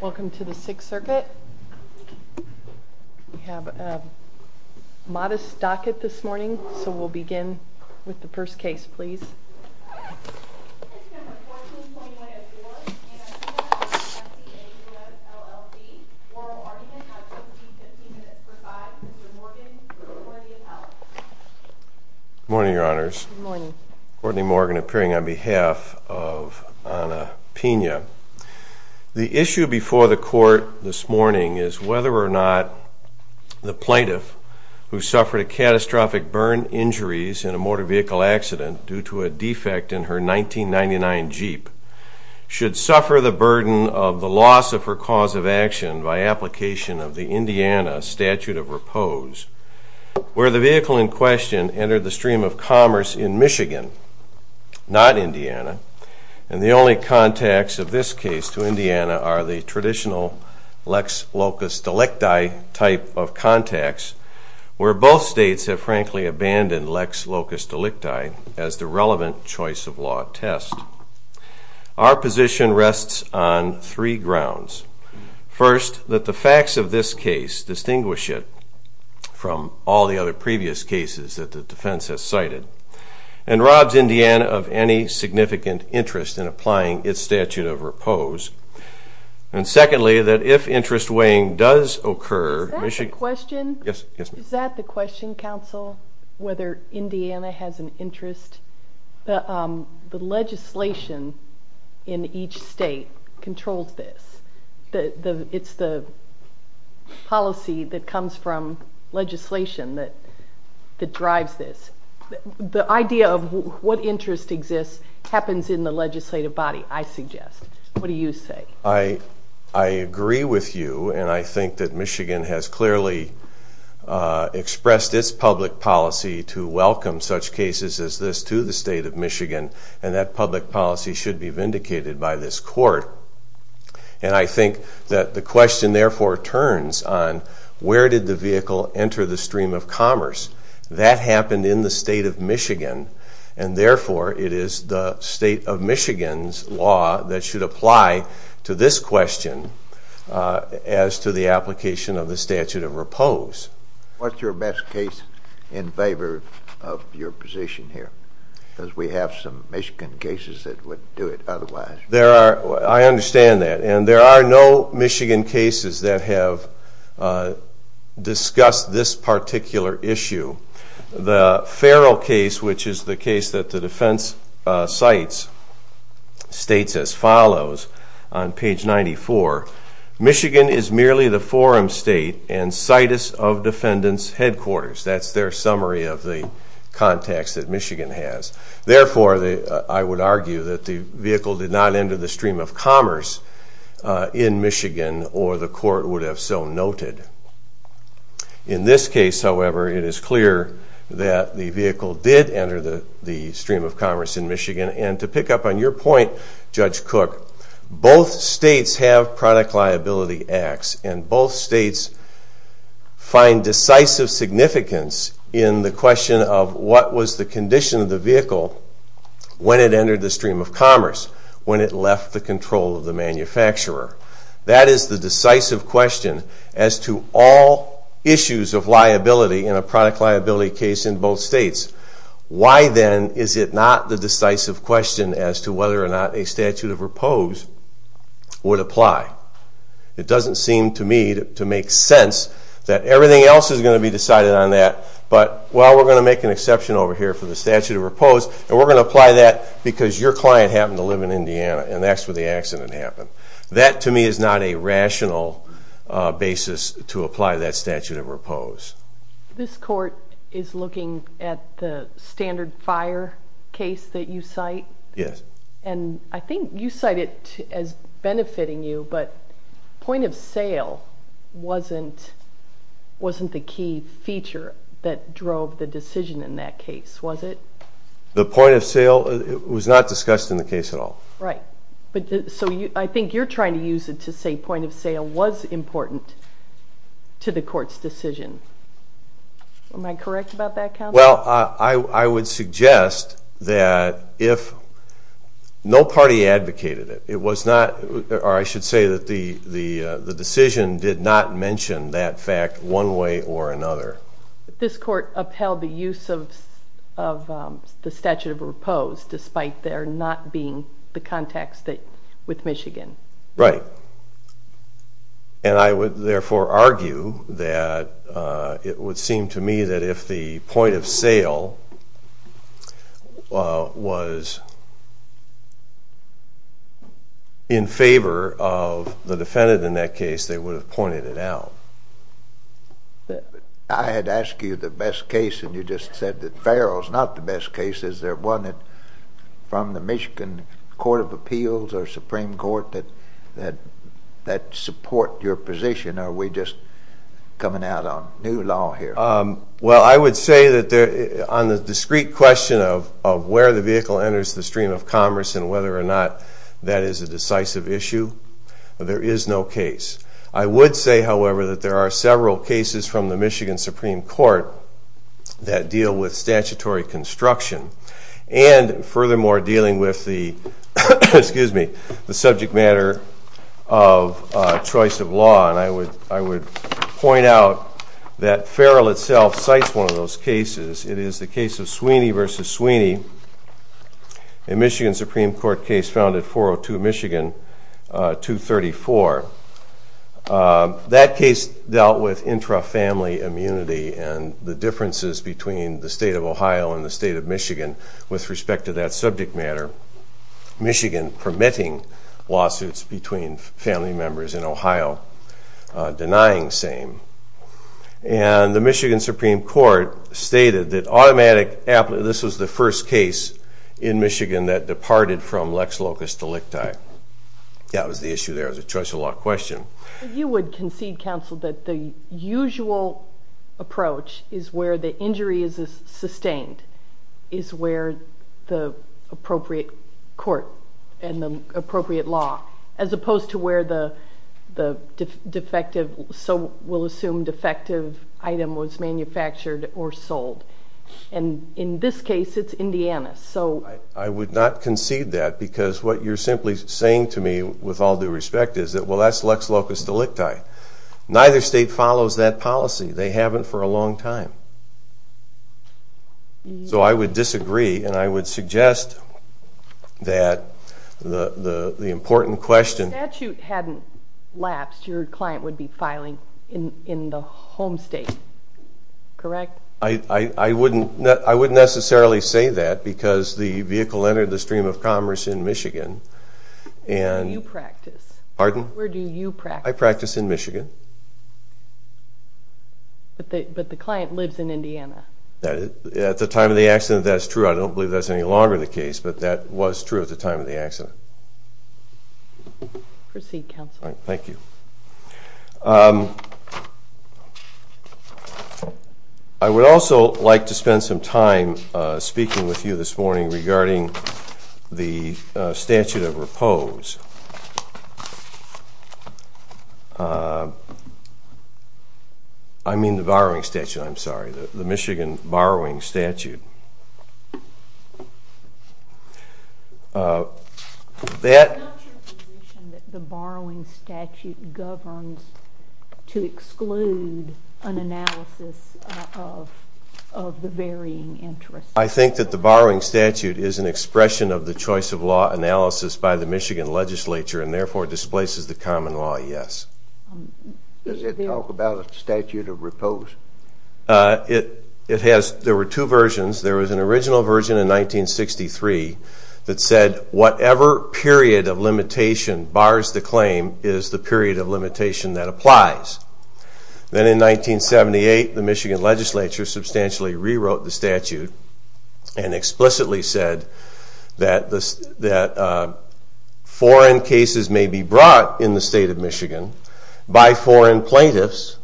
Welcome to the Sixth Circuit. We have a modest docket this morning, so we'll begin with the first case, please. Good morning, Your Honors. Good morning. Courtney Morgan appearing on behalf of Anna Pina. The issue before the court this morning is whether or not the plaintiff who suffered a catastrophic burn injuries in a motor vehicle accident due to a defect in her 1999 Jeep should suffer the burden of the loss of her cause of action by application of the Indiana statute of repose, where the vehicle in question entered the stream of commerce in Michigan, not Indiana, and the only contacts of this case to Indiana are the traditional Lex Locus Delicti type of contacts, where both states have frankly abandoned Lex Locus Delicti as the relevant choice of law test. Our position rests on three grounds. First, that the facts of this case distinguish it from all the other previous cases that the statute of repose, and secondly, that if interest weighing does occur... Is that the question, counsel, whether Indiana has an interest? The legislation in each state controls this. It's the policy that comes from legislation that drives this. The idea of what interest exists happens in the legislative body, I suggest. What do you say? I agree with you, and I think that Michigan has clearly expressed its public policy to welcome such cases as this to the state of Michigan, and that public policy should be vindicated by this court. And I think that the question therefore turns on where did the vehicle enter the stream of commerce? That happened in the state of Michigan. It is the state of Michigan's law that should apply to this question as to the application of the statute of repose. What's your best case in favor of your position here? Because we have some Michigan cases that would do it otherwise. I understand that, and there are no Michigan cases that have discussed this particular issue. The Farrell case, which is the case that the defense cites, states as follows on page 94, Michigan is merely the forum state and situs of defendant's headquarters. That's their summary of the context that Michigan has. Therefore, I would argue that the vehicle did not enter the stream of commerce in Michigan, or the court would have so noted. In this case, however, it is clear that the vehicle did enter the stream of commerce in Michigan, and to pick up on your point, Judge Cook, both states have product liability acts, and both states find decisive significance in the question of what was the condition of the vehicle when it entered the stream of commerce, when it left the control of the manufacturer. That is the decisive question as to all issues of liability in a product liability case in both states. Why then is it not the decisive question as to whether or not a statute of repose would apply? It doesn't seem to me to make sense that everything else is going to be decided on that, but, well, we're going to make an exception over here for the statute of repose, and we're going to apply that because your client happened to live in Indiana, and that's where the accident happened. That, to me, is not a rational basis to apply that statute of repose. This court is looking at the standard fire case that you cite? Yes. And I think you cite it as the point of sale that drove the decision in that case, was it? The point of sale was not discussed in the case at all. Right. So I think you're trying to use it to say point of sale was important to the court's decision. Am I correct about that, counsel? Well, I would suggest that if no party advocated it, it was not, or I should say that the decision did not mention that fact one way or another. This court upheld the use of the statute of repose despite there not being the context with Michigan. Right. And I would therefore argue that it would seem to me that if the point of sale was in favor of the defendant in that case, they would have pointed it out. I had asked you the best case, and you just said that Farrell's not the best case. Is there one that from the Michigan Court of Appeals or Supreme Court that support your position, or are we just coming out on new law here? Well, I would say that on the discrete question of where the vehicle enters the stream of commerce and whether or not that is a decisive issue, there is no case. I would say, however, that there are several cases from the Michigan Supreme Court that deal with statutory construction and furthermore dealing with the subject matter of choice of law. And I would point out that Farrell itself cites one of those cases. It is the case of Sweeney v. Sweeney, a Michigan Supreme Court case found at 402 Michigan 234. That case dealt with intra-family immunity and the differences between the state of Ohio and the state of Michigan with respect to that subject matter. Michigan permitting lawsuits between family members in Ohio denying same. And the Michigan Supreme Court stated that automatic this was the first case in Michigan that departed from lex locust to licti. That was the issue there. It was a choice of law question. You would concede, counsel, that the usual approach is where the injury is sustained, is where the appropriate court and the appropriate law, as opposed to where the defective, so we'll assume defective item was manufactured or sold. And in this case, it's Indiana. I would not concede that because what you're simply saying to me with all due respect is that, well, that's lex locust to licti. Neither state follows that policy. They haven't for a long time. So I would disagree and I would suggest that the important question... If the statute hadn't lapsed, your client would be filing in the home state, correct? I wouldn't necessarily say that because the vehicle entered the stream of commerce in Michigan and... Where do you practice? Pardon? Where do you practice? I practice in Michigan. But the client lives in Indiana. At the time of the accident, that's true. I don't believe that's any longer the case, but that was true at the time of the accident. Proceed, counsel. Thank you. I would also like to spend some time speaking with you this morning regarding the statute of repose. I mean the borrowing statute, I'm sorry. The Michigan borrowing statute. I'm not sure that the borrowing statute governs to exclude an analysis of the varying interests. I think that the borrowing statute is an expression of the choice of law analysis by the Michigan legislature and therefore displaces the common law, yes. Does it talk about a statute of repose? There were two versions. There was an original version in 1963 that said whatever period of limitation bars the claim is the period of limitation that applies. Then in 1978, the Michigan legislature substantially rewrote the statute and explicitly said that foreign cases may be brought in the state of Michigan by foreign plaintiffs,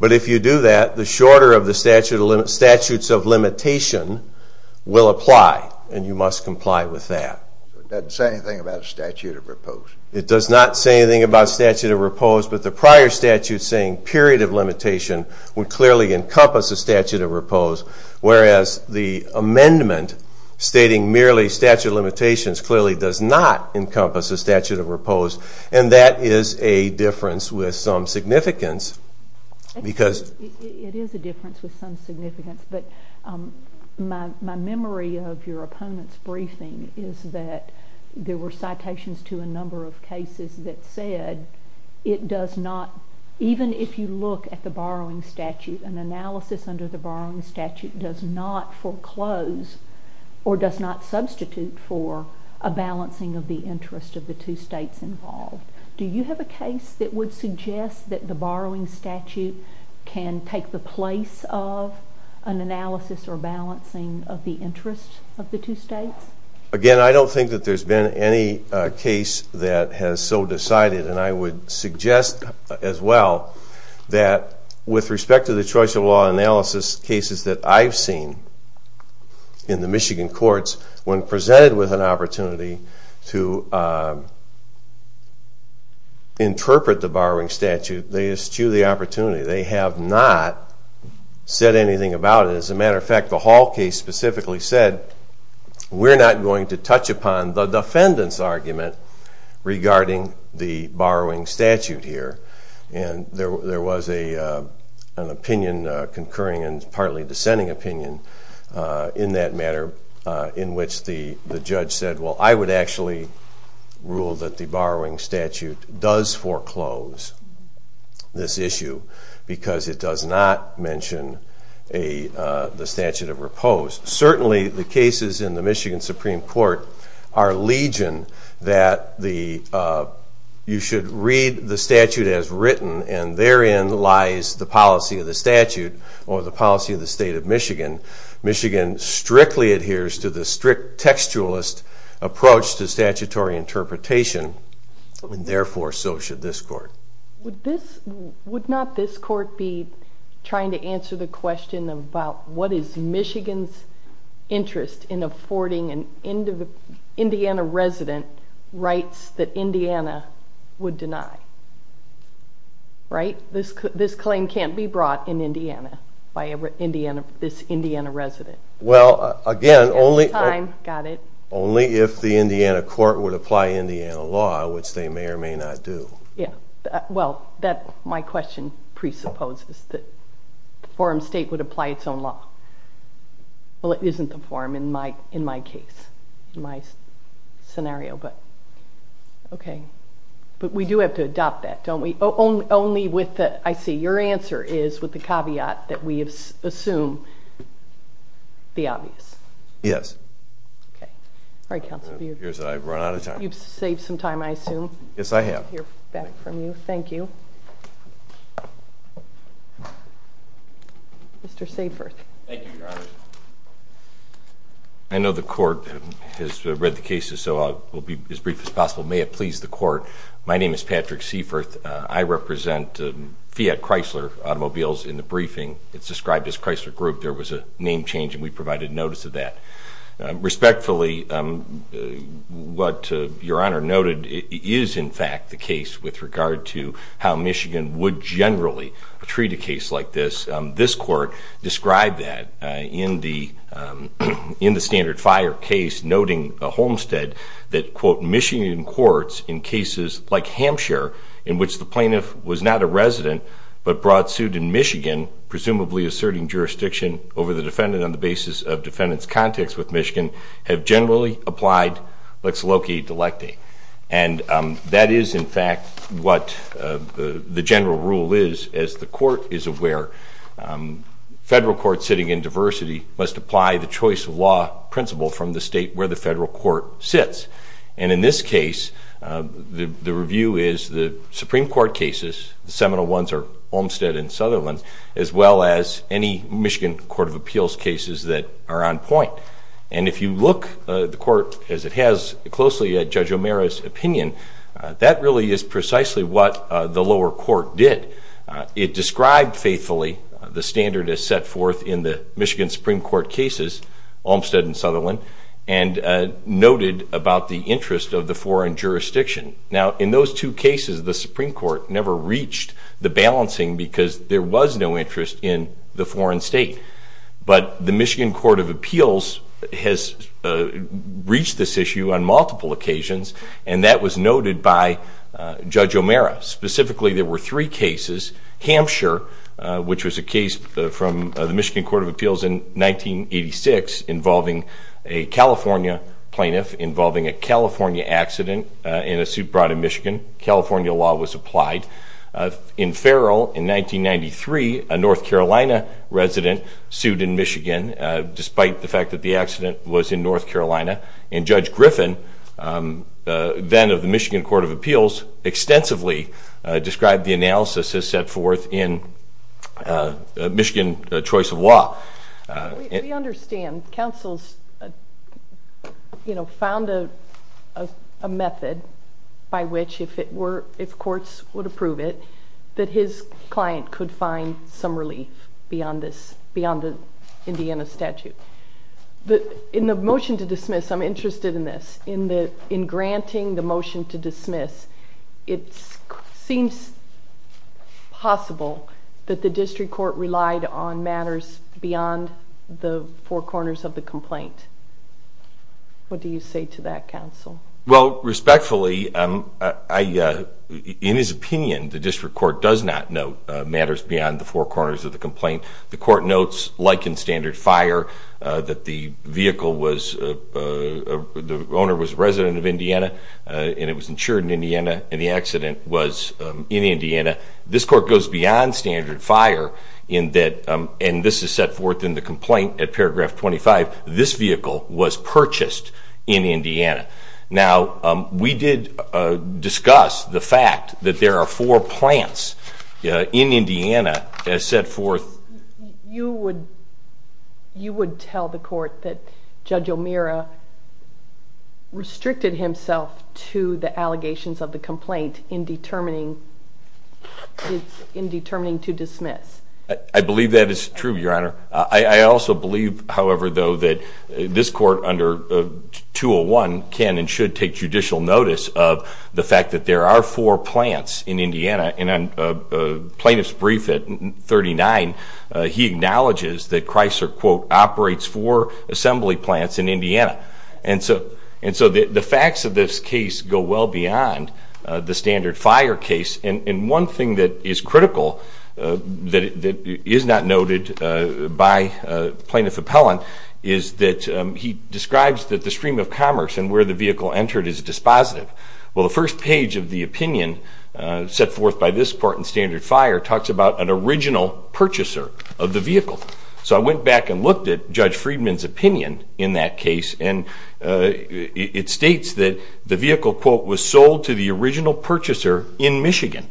but if you do that the shorter of the statutes of limitation will apply and you must comply with that. It doesn't say anything about a statute of repose? It does not say anything about a statute of repose, but the prior statute saying period of limitation would clearly encompass a statute of repose, whereas the amendment stating merely statute of limitations clearly does not encompass a statute of repose and that is a difference with some significance. It is a difference with some significance, but my memory of your opponent's briefing is that there were citations to a number of cases that said it does not, even if you look at the borrowing statute, an analysis under the borrowing statute does not foreclose or does not substitute for a balancing of the interest of the two states involved. Do you have a case that would suggest that the borrowing statute can take the place of an analysis or balancing of the interest of the two states? Again, I don't think that there's been any case that has so decided and I would suggest as well that with respect to the choice of law analysis cases that I've seen in the Michigan courts, when presented with an opportunity to think about it. As a matter of fact, the Hall case specifically said we're not going to touch upon the defendant's argument regarding the borrowing statute here and there was an opinion, a concurring and partly dissenting opinion in that matter in which the judge said, well I would actually rule that the borrowing statute does foreclose this issue because it does not mention the statute of repose. Certainly the cases in the Michigan Supreme Court are legion that you should read the statute as written and therein lies the policy of the statute or the policy of the state of Michigan. Michigan strictly adheres to the strict textualist approach to statutory interpretation and therefore so should this court. Would not this court be trying to answer the question about what is Michigan's interest in affording an Indiana resident rights that Indiana would deny? Right? This claim can't be brought in Indiana by this Indiana resident. Well again, only if the Indiana court would apply Indiana law, which they may or may not do. Well my question presupposes that the forum state would apply its own law. Well it isn't the forum in my case, in my scenario, but okay. But we do have to adopt that don't we? Only with the, I see, your answer is with the caveat that we assume the obvious. Yes. Alright counsel. I've run out of time. You've saved some time I assume. Yes I have. Thank you. Mr. Seaforth. Thank you your honor. I know the court has read the cases so I'll be as brief as possible. May it please the court my name is Patrick Seaforth. I represent Fiat Chrysler Automobiles in the briefing. It's described as Chrysler Group. There was a name change and we provided notice of that. Respectfully what your honor noted is in fact the case with regard to how Michigan would generally treat a case like this. This court described that in the standard fire case noting a homestead that quote Michigan courts in cases like Hampshire in which the plaintiff was not a resident but brought sued in Michigan presumably asserting jurisdiction over the defendant on the basis of defendant's context with Michigan have generally applied lex loci delecta. And that is in fact what the general rule is as the court is aware. Federal courts sitting in diversity must apply the choice of law principle from the state where the federal court sits. And in this case the review is the Supreme Court cases, the seminal ones are Olmstead and Sutherland as well as any Michigan Court of Appeals cases that are on point. And if you look the court as it has closely at Judge O'Meara's opinion that really is precisely what the lower court did. It described faithfully the standard as set forth in the Michigan Supreme Court cases, Olmstead and Sutherland, and noted about the interest of the foreign jurisdiction. Now in those two cases the Supreme Court never reached the balancing because there was no interest in the foreign state. But the Michigan Court of Appeals has reached this issue on multiple occasions and that was noted by Judge O'Meara. Specifically there were three cases. Hampshire, which was a case from the Michigan Court of Appeals in 1986 involving a California plaintiff, involving a California accident in a suit brought in Michigan. California law was applied. In Farrell in 1993 a North Carolina resident sued in Michigan despite the fact that the accident was in Michigan. So that's the way they described the analysis as set forth in Michigan choice of law. We understand. Councils found a method by which if courts would approve it that his client could find some relief beyond the Indiana statute. In the motion to dismiss, I'm interested in this, in granting the motion to dismiss, it seems possible that the district court relied on matters beyond the four corners of the complaint. What do you say to that, Council? Well, respectfully, in his opinion, the district court does not note matters beyond the four corners of the complaint. The court notes, like in standard fire, that the vehicle was, the owner was a resident of Indiana and it was insured in Indiana and the accident was in Indiana. This court goes beyond standard fire in that, and this is set forth in the complaint at paragraph 25, this vehicle was purchased in Indiana. Now, we did discuss the fact that there are four plants in Indiana that are set forth. You would tell the court that Judge O'Meara restricted himself to the allegations of the complaint in determining to dismiss? I believe that is true, Your Honor. I also believe, however, though, that this court under 201 can and should take judicial notice of the fact that there are four plants in Indiana. In a plaintiff's brief at 39, he acknowledges that Chrysler operates four assembly plants in Indiana. And so the facts of this case go well beyond the standard fire case. And one thing that is critical that is not noted by plaintiff appellant is that he describes that the stream of commerce and where the vehicle entered is dispositive. Well, the first page of the opinion set forth by this court in standard fire talks about an original purchaser of the vehicle. So I went back and looked at Judge Friedman's opinion in that case, and it states that the vehicle quote, was sold to the original purchaser in Michigan.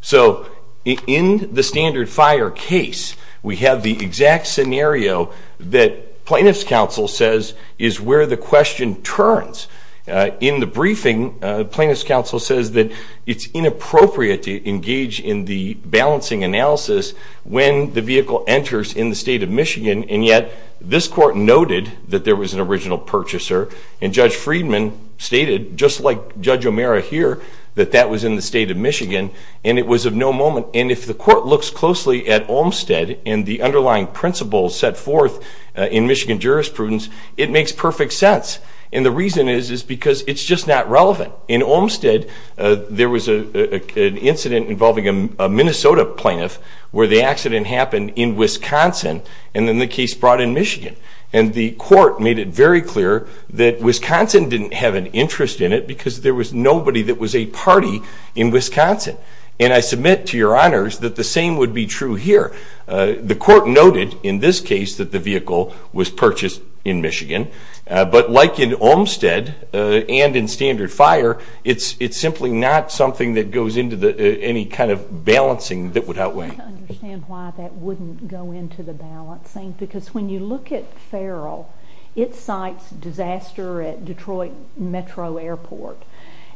So in the standard fire case, we have the exact scenario that plaintiff's counsel says is where the question turns. In the briefing, plaintiff's counsel says that it's inappropriate to engage in the balancing analysis when the vehicle enters in the state of Michigan, and yet this court noted that there was an original purchaser, and Judge Friedman stated, just like Judge O'Meara here, that that was in the state of Michigan, and it was of no moment. And if the court looks closely at Olmstead and the underlying principles set forth in Michigan jurisprudence, it makes perfect sense. And the reason is because it's just not relevant. In Olmstead, there was an incident involving a Minnesota plaintiff where the accident happened in Wisconsin, and then the case brought in Michigan. And the court made it very clear that Wisconsin didn't have an interest in it because there was nobody that was a party in Wisconsin. And I submit to your honors that the same would be true here. The court noted in this case that the vehicle was purchased in Michigan, but like in Olmstead and in standard fire, it's simply not something that goes into any kind of balancing that would outweigh. I don't understand why that wouldn't go into the balancing, because when you look at Farrell, it cites disaster at Detroit Metro Airport.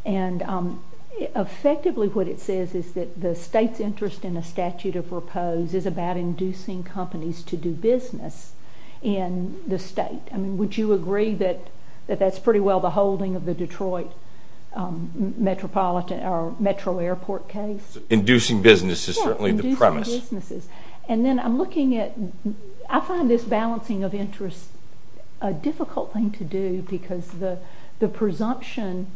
And effectively what it says is that the state's interest in a statute of repose is about inducing companies to do business in the state. I mean, would you agree that that's pretty well the holding of the Detroit Metropolitan or Metro Airport case? Inducing business is certainly the premise. Inducing businesses. And then I'm looking at, I find this balancing of interests a difficult thing to do because the presumption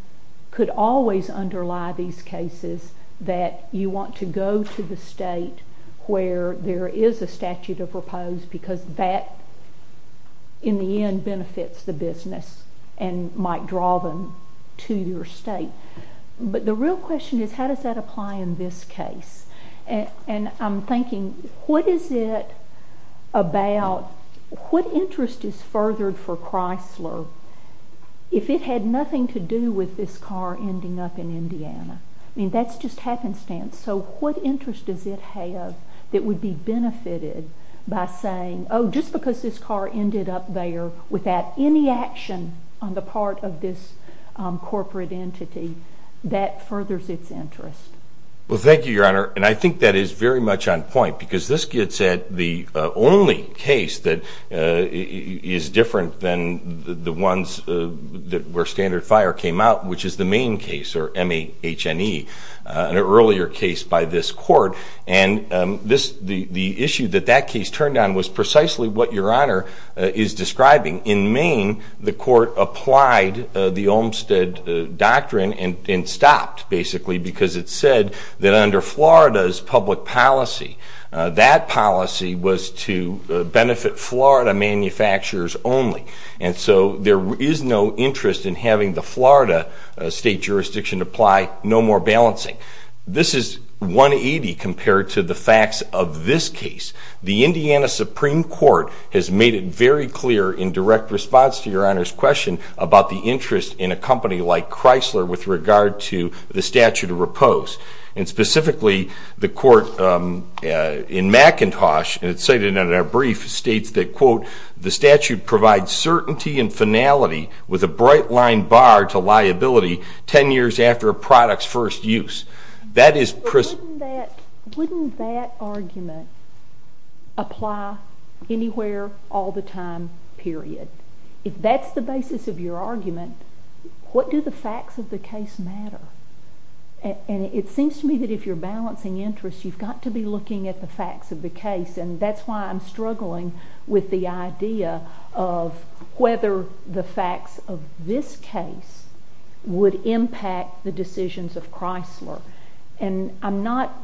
could always underlie these cases that you want to go to the state where there is a statute of repose because that, in the end, benefits the business and might draw them to your state. But the real question is, how does that What interest is furthered for Chrysler if it had nothing to do with this car ending up in Indiana? I mean, that's just happenstance. So what interest does it have that would be benefited by saying, oh, just because this car ended up there without any action on the part of this corporate entity, that furthers its interest? Well, thank you, Your Honor. And I think that is very much on point because this gets at the only case that is different than the ones where Standard Fire came out, which is the Maine case, or M-A-H-N-E, an earlier case by this court. And the issue that that case turned on was precisely what Your Honor is describing. In Maine, the court applied the Olmstead Doctrine and stopped, basically, because it said that under Florida's public policy, that policy was to benefit Florida manufacturers only. And so there is no interest in having the Florida state jurisdiction apply no more balancing. This is 180 compared to the facts of this case. The Indiana Supreme Court has made it very clear in direct response to Your Honor's question about the interest in a company like Chrysler with regard to the statute of repose. And specifically, the court in McIntosh, and it's stated in our brief, states that, quote, the statute provides certainty and finality with a bright-lined bar to liability ten years after a product's first use. Wouldn't that argument apply anywhere, all the time, period? If that's the basis of your argument, what do the facts of the case matter? And it seems to me that if you're balancing interests, you've got to be looking at the facts of the case, and that's why I'm struggling with the idea of whether the facts of this case would impact the decisions of Chrysler. And I'm not,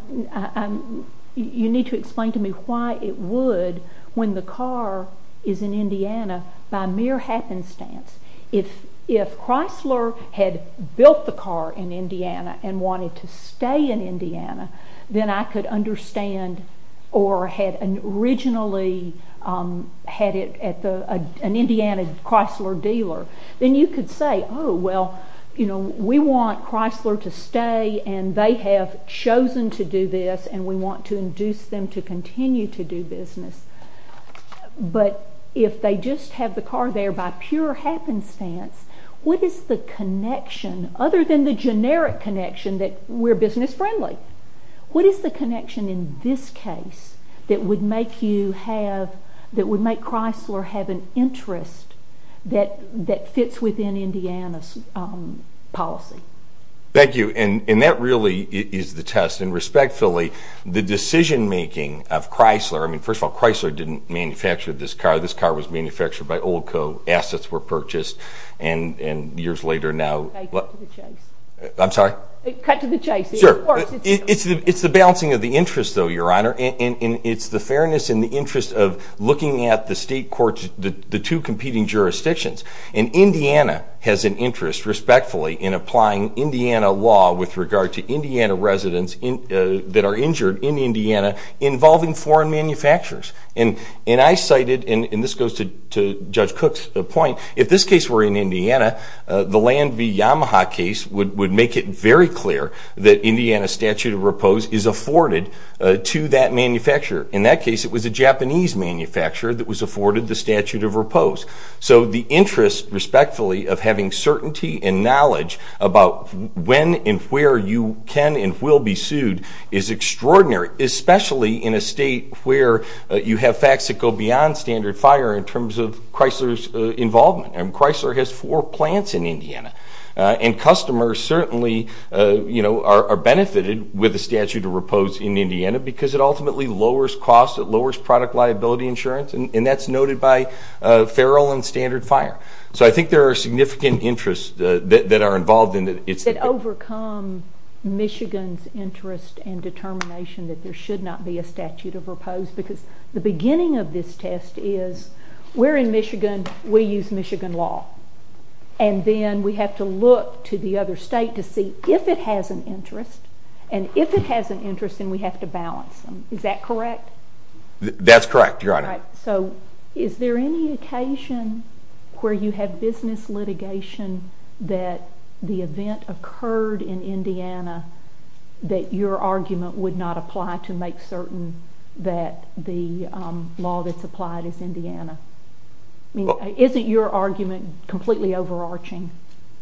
you need to explain to me why it would when the car is in Indiana by mere happenstance. If Chrysler had built the car in Indiana and wanted to stay in Indiana, then I could understand, or had originally had it at an Indiana Chrysler dealer, then you could say, oh, well, we want Chrysler to stay and they have chosen to do this and we want to induce them to continue to do business. But if they just have built the car there by pure happenstance, what is the connection, other than the generic connection that we're business friendly, what is the connection in this case that would make you have, that would make Chrysler have an interest that fits within Indiana's policy? Thank you. And that really is the test. And respectfully, the decision making of Chrysler, I mean, first of all, Chrysler didn't manufacture this car, this car was manufactured by Olco, assets were purchased, and years later now... Cut to the chase. I'm sorry? Cut to the chase. Sure. It's the balancing of the interests, though, Your Honor, and it's the fairness and the interest of looking at the state courts, the two competing jurisdictions. And Indiana has an interest, respectfully, in applying Indiana law with regard to Indiana residents that are injured in Indiana involving foreign manufacturers. And I cited, and this goes to Judge Cook's point, if this case were in Indiana, the Land v. Yamaha case would make it very clear that Indiana statute of repose is afforded to that manufacturer. In that case, it was a Japanese manufacturer that was afforded the statute of repose. So the interest, respectfully, of having certainty and knowledge about when and where you can and will be sued is extraordinary, especially in a state where you have facts that go beyond standard fire in terms of Chrysler's involvement. And Chrysler has four plants in Indiana. And customers certainly are benefited with the statute of repose in Indiana because it ultimately lowers cost, it lowers product liability insurance, and that's noted by feral and standard fire. So I think there are significant interests that are involved... That overcome Michigan's interest and determination that there should not be a statute of repose. Because the beginning of this test is, we're in If it has an interest, and if it has an interest, then we have to balance them. Is that correct? That's correct, Your Honor. So is there any occasion where you have business litigation that the event occurred in Indiana that your argument would not apply to make certain that the law that's applied is Indiana? I mean, isn't your argument completely overarching?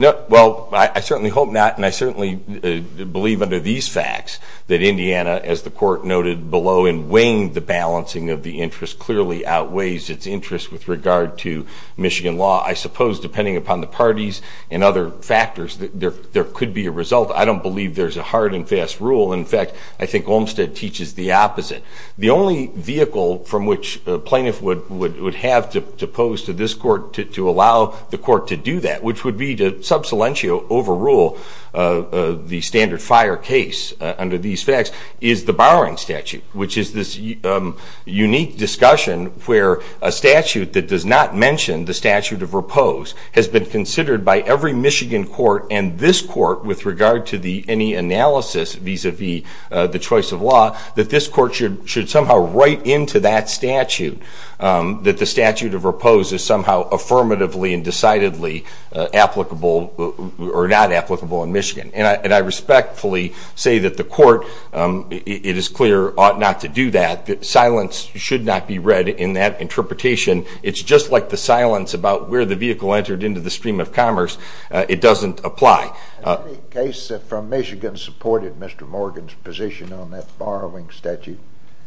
Well, I certainly hope not, and I certainly believe under these facts that Indiana, as the Court noted below, in weighing the balancing of the interest clearly outweighs its interest with regard to Michigan law. I suppose, depending upon the parties and other factors, that there could be a result. I don't believe there's a hard and fast rule. In fact, I think Olmstead teaches the opposite. The only vehicle from which a plaintiff would have to pose to this Court to allow the Court to do that, which would be to sub salientio overrule the standard fire case under these facts, is the borrowing statute, which is this unique discussion where a statute that does not mention the statute of repose has been considered by every Michigan Court and this Court with regard to any analysis vis-a-vis the choice of law, that this Court should somehow write into that statute that the statute of repose is somehow affirmatively and decidedly applicable or not applicable in Michigan. And I respectfully say that the Court, it is clear, ought not to do that. Silence should not be read in that interpretation. It's just like the silence about where the vehicle entered into the stream of commerce. It doesn't apply. Any case from Michigan supported Mr. Morgan's position on that borrowing statute?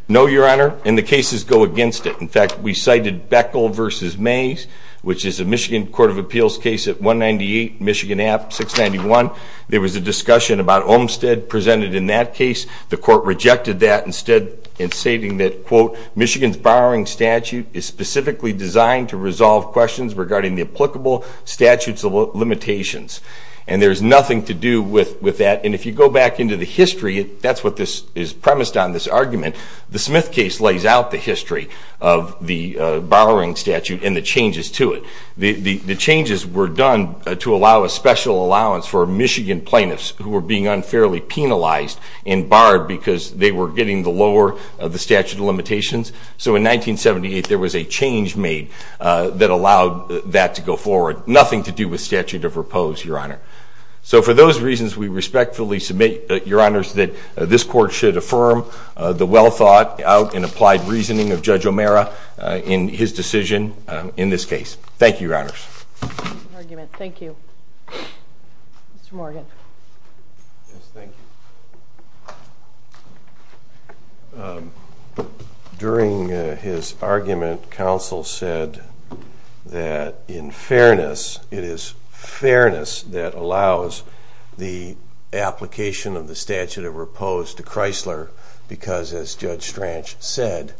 No, Your Honor, and the cases go against it. In fact, we cited Beckel v. Mays, which is a Michigan Court of Appeals case at 198 Michigan Ave, 691. There was a discussion about Olmstead presented in that case. The Court rejected that instead in stating that, quote, Michigan's borrowing statute is specifically designed to resolve questions regarding the applicable statutes of limitations. And there's nothing to do with that. And if you go back into the history, that's what is premised on this argument. The Smith case lays out the history of the borrowing statute and the changes to it. The changes were done to allow a special allowance for Michigan plaintiffs who were being unfairly penalized and barred because they were getting the lower of the statute of limitations. So in 1978, there was a change made that allowed that to go forward. Nothing to do with statute of repose, Your Honor. So for those reasons, we respectfully submit, Your Honors, that this Court should affirm the well-thought-out and applied reasoning of Judge O'Mara in his decision in this case. Thank you, Your Honors. Thank you. Mr. Morgan. Yes, thank you. During his argument, counsel said that in fairness, it is fairness that allows the application of the statute of repose to Chrysler because, as Judge Strach said,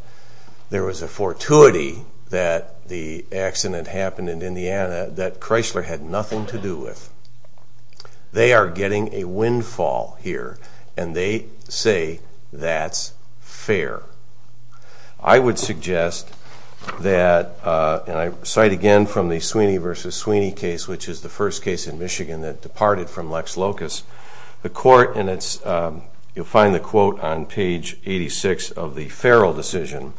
there was a fortuity that the accident happened in Indiana that Chrysler had nothing to do with. They are getting a windfall here, and they say that's fair. I would suggest that, and I cite again from the Sweeney v. Sweeney case, which is the first case in Michigan that departed from Lex Locus. You'll find the quote on page 86 of the Farrell decision.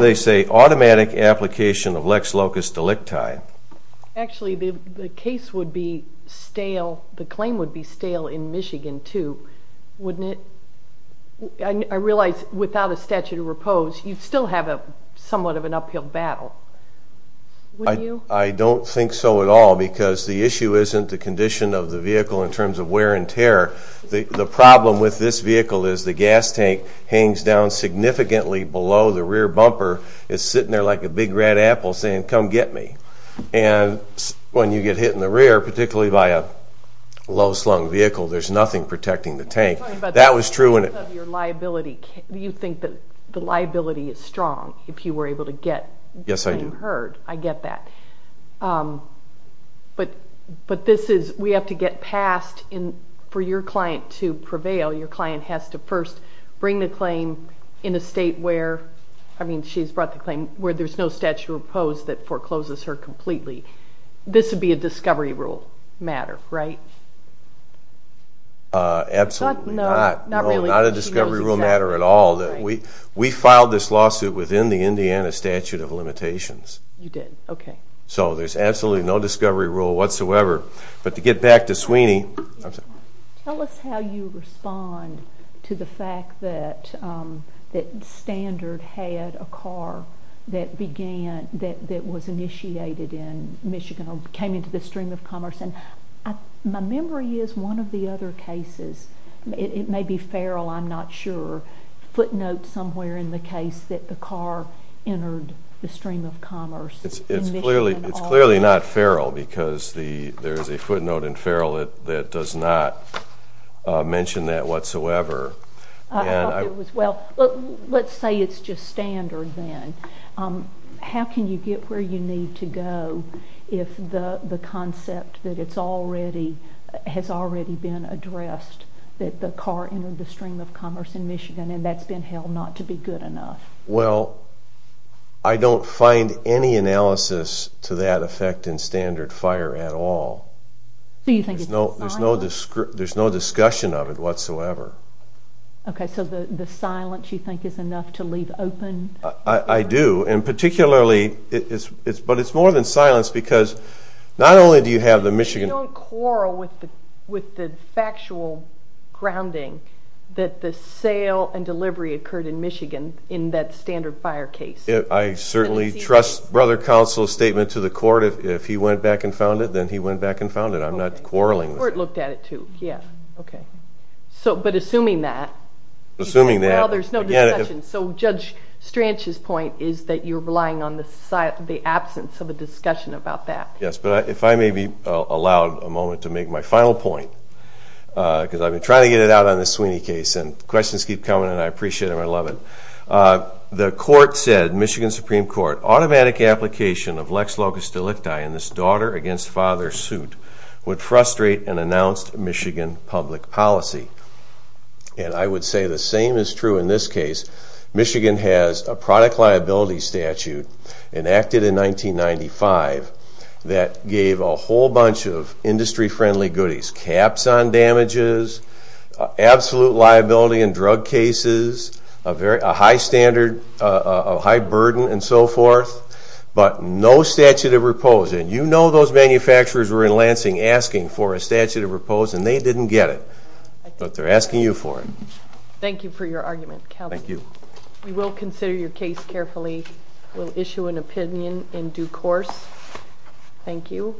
They say, automatic application of Lex Locus delicti. Actually, the case would be stale, the claim would be stale in Michigan, too, wouldn't it? I realize without a statute of repose, you'd still have somewhat of an uphill battle, wouldn't you? I don't think so at all because the issue isn't the condition of the vehicle in terms of wear and tear. The problem with this vehicle is the gas tank hangs down significantly below the rear bumper. It's sitting there like a big red apple saying, come get me. When you get hit in the rear, particularly by a low-slung vehicle, there's nothing protecting the tank. You think the liability is strong if you were able to get the claim heard. I get that. But this is, we have to get past, for your client to prevail, your client has to first bring the claim in a state where, I mean, she's brought the claim where there's no statute of repose that forecloses her completely. This would be a discovery rule matter, right? Absolutely not. Not a discovery rule matter at all. We filed this lawsuit within the Indiana statute of limitations. So there's absolutely no discovery rule whatsoever. But to get back to Sweeney. Tell us how you respond to the fact that Standard had a car that was initiated in Michigan or came into the stream of commerce. My memory is one of the other cases, it may be Farrell, I'm not sure, footnotes somewhere in the case that the car entered the stream of commerce. It's clearly not Farrell because there's a footnote in Farrell that does not mention that whatsoever. I thought it was, well, let's say it's just Standard then. How can you get where you need to go if the concept that it's already, has already been addressed, that the car entered the stream of commerce in Michigan and that's been held not to be good enough? Well, I don't find any analysis to that effect in Standard Fire at all. So you think it's silence? There's no discussion of it whatsoever. Okay, so the silence you think is enough to leave open? I do, and particularly, but it's more than silence because not only do you have the Michigan... You don't quarrel with the Fire case. I certainly trust Brother Counsel's statement to the court. If he went back and found it, then he went back and found it. I'm not quarreling. The court looked at it too. Assuming that... Well, there's no discussion. So Judge Stranch's point is that you're relying on the absence of a discussion about that. Yes, but if I may be allowed a moment to make my final point, because I've been trying to get it out on this Sweeney case and questions keep coming and I appreciate them, I love it. The court said, Michigan Supreme Court, automatic application of Lex Locust Delicti in this daughter against father suit would frustrate an announced Michigan public policy. And I would say the same is true in this case. Michigan has a product liability statute enacted in 1995 that gave a whole bunch of industry friendly goodies. Caps on damages, absolute liability in drug cases, a high standard, a high burden and so forth, but no statute of repose. And you know those manufacturers were in Lansing asking for a statute of repose and they didn't get it. But they're asking you for it. Thank you for your argument. Thank you. We will consider your case carefully. We'll issue an opinion in due course. Thank you.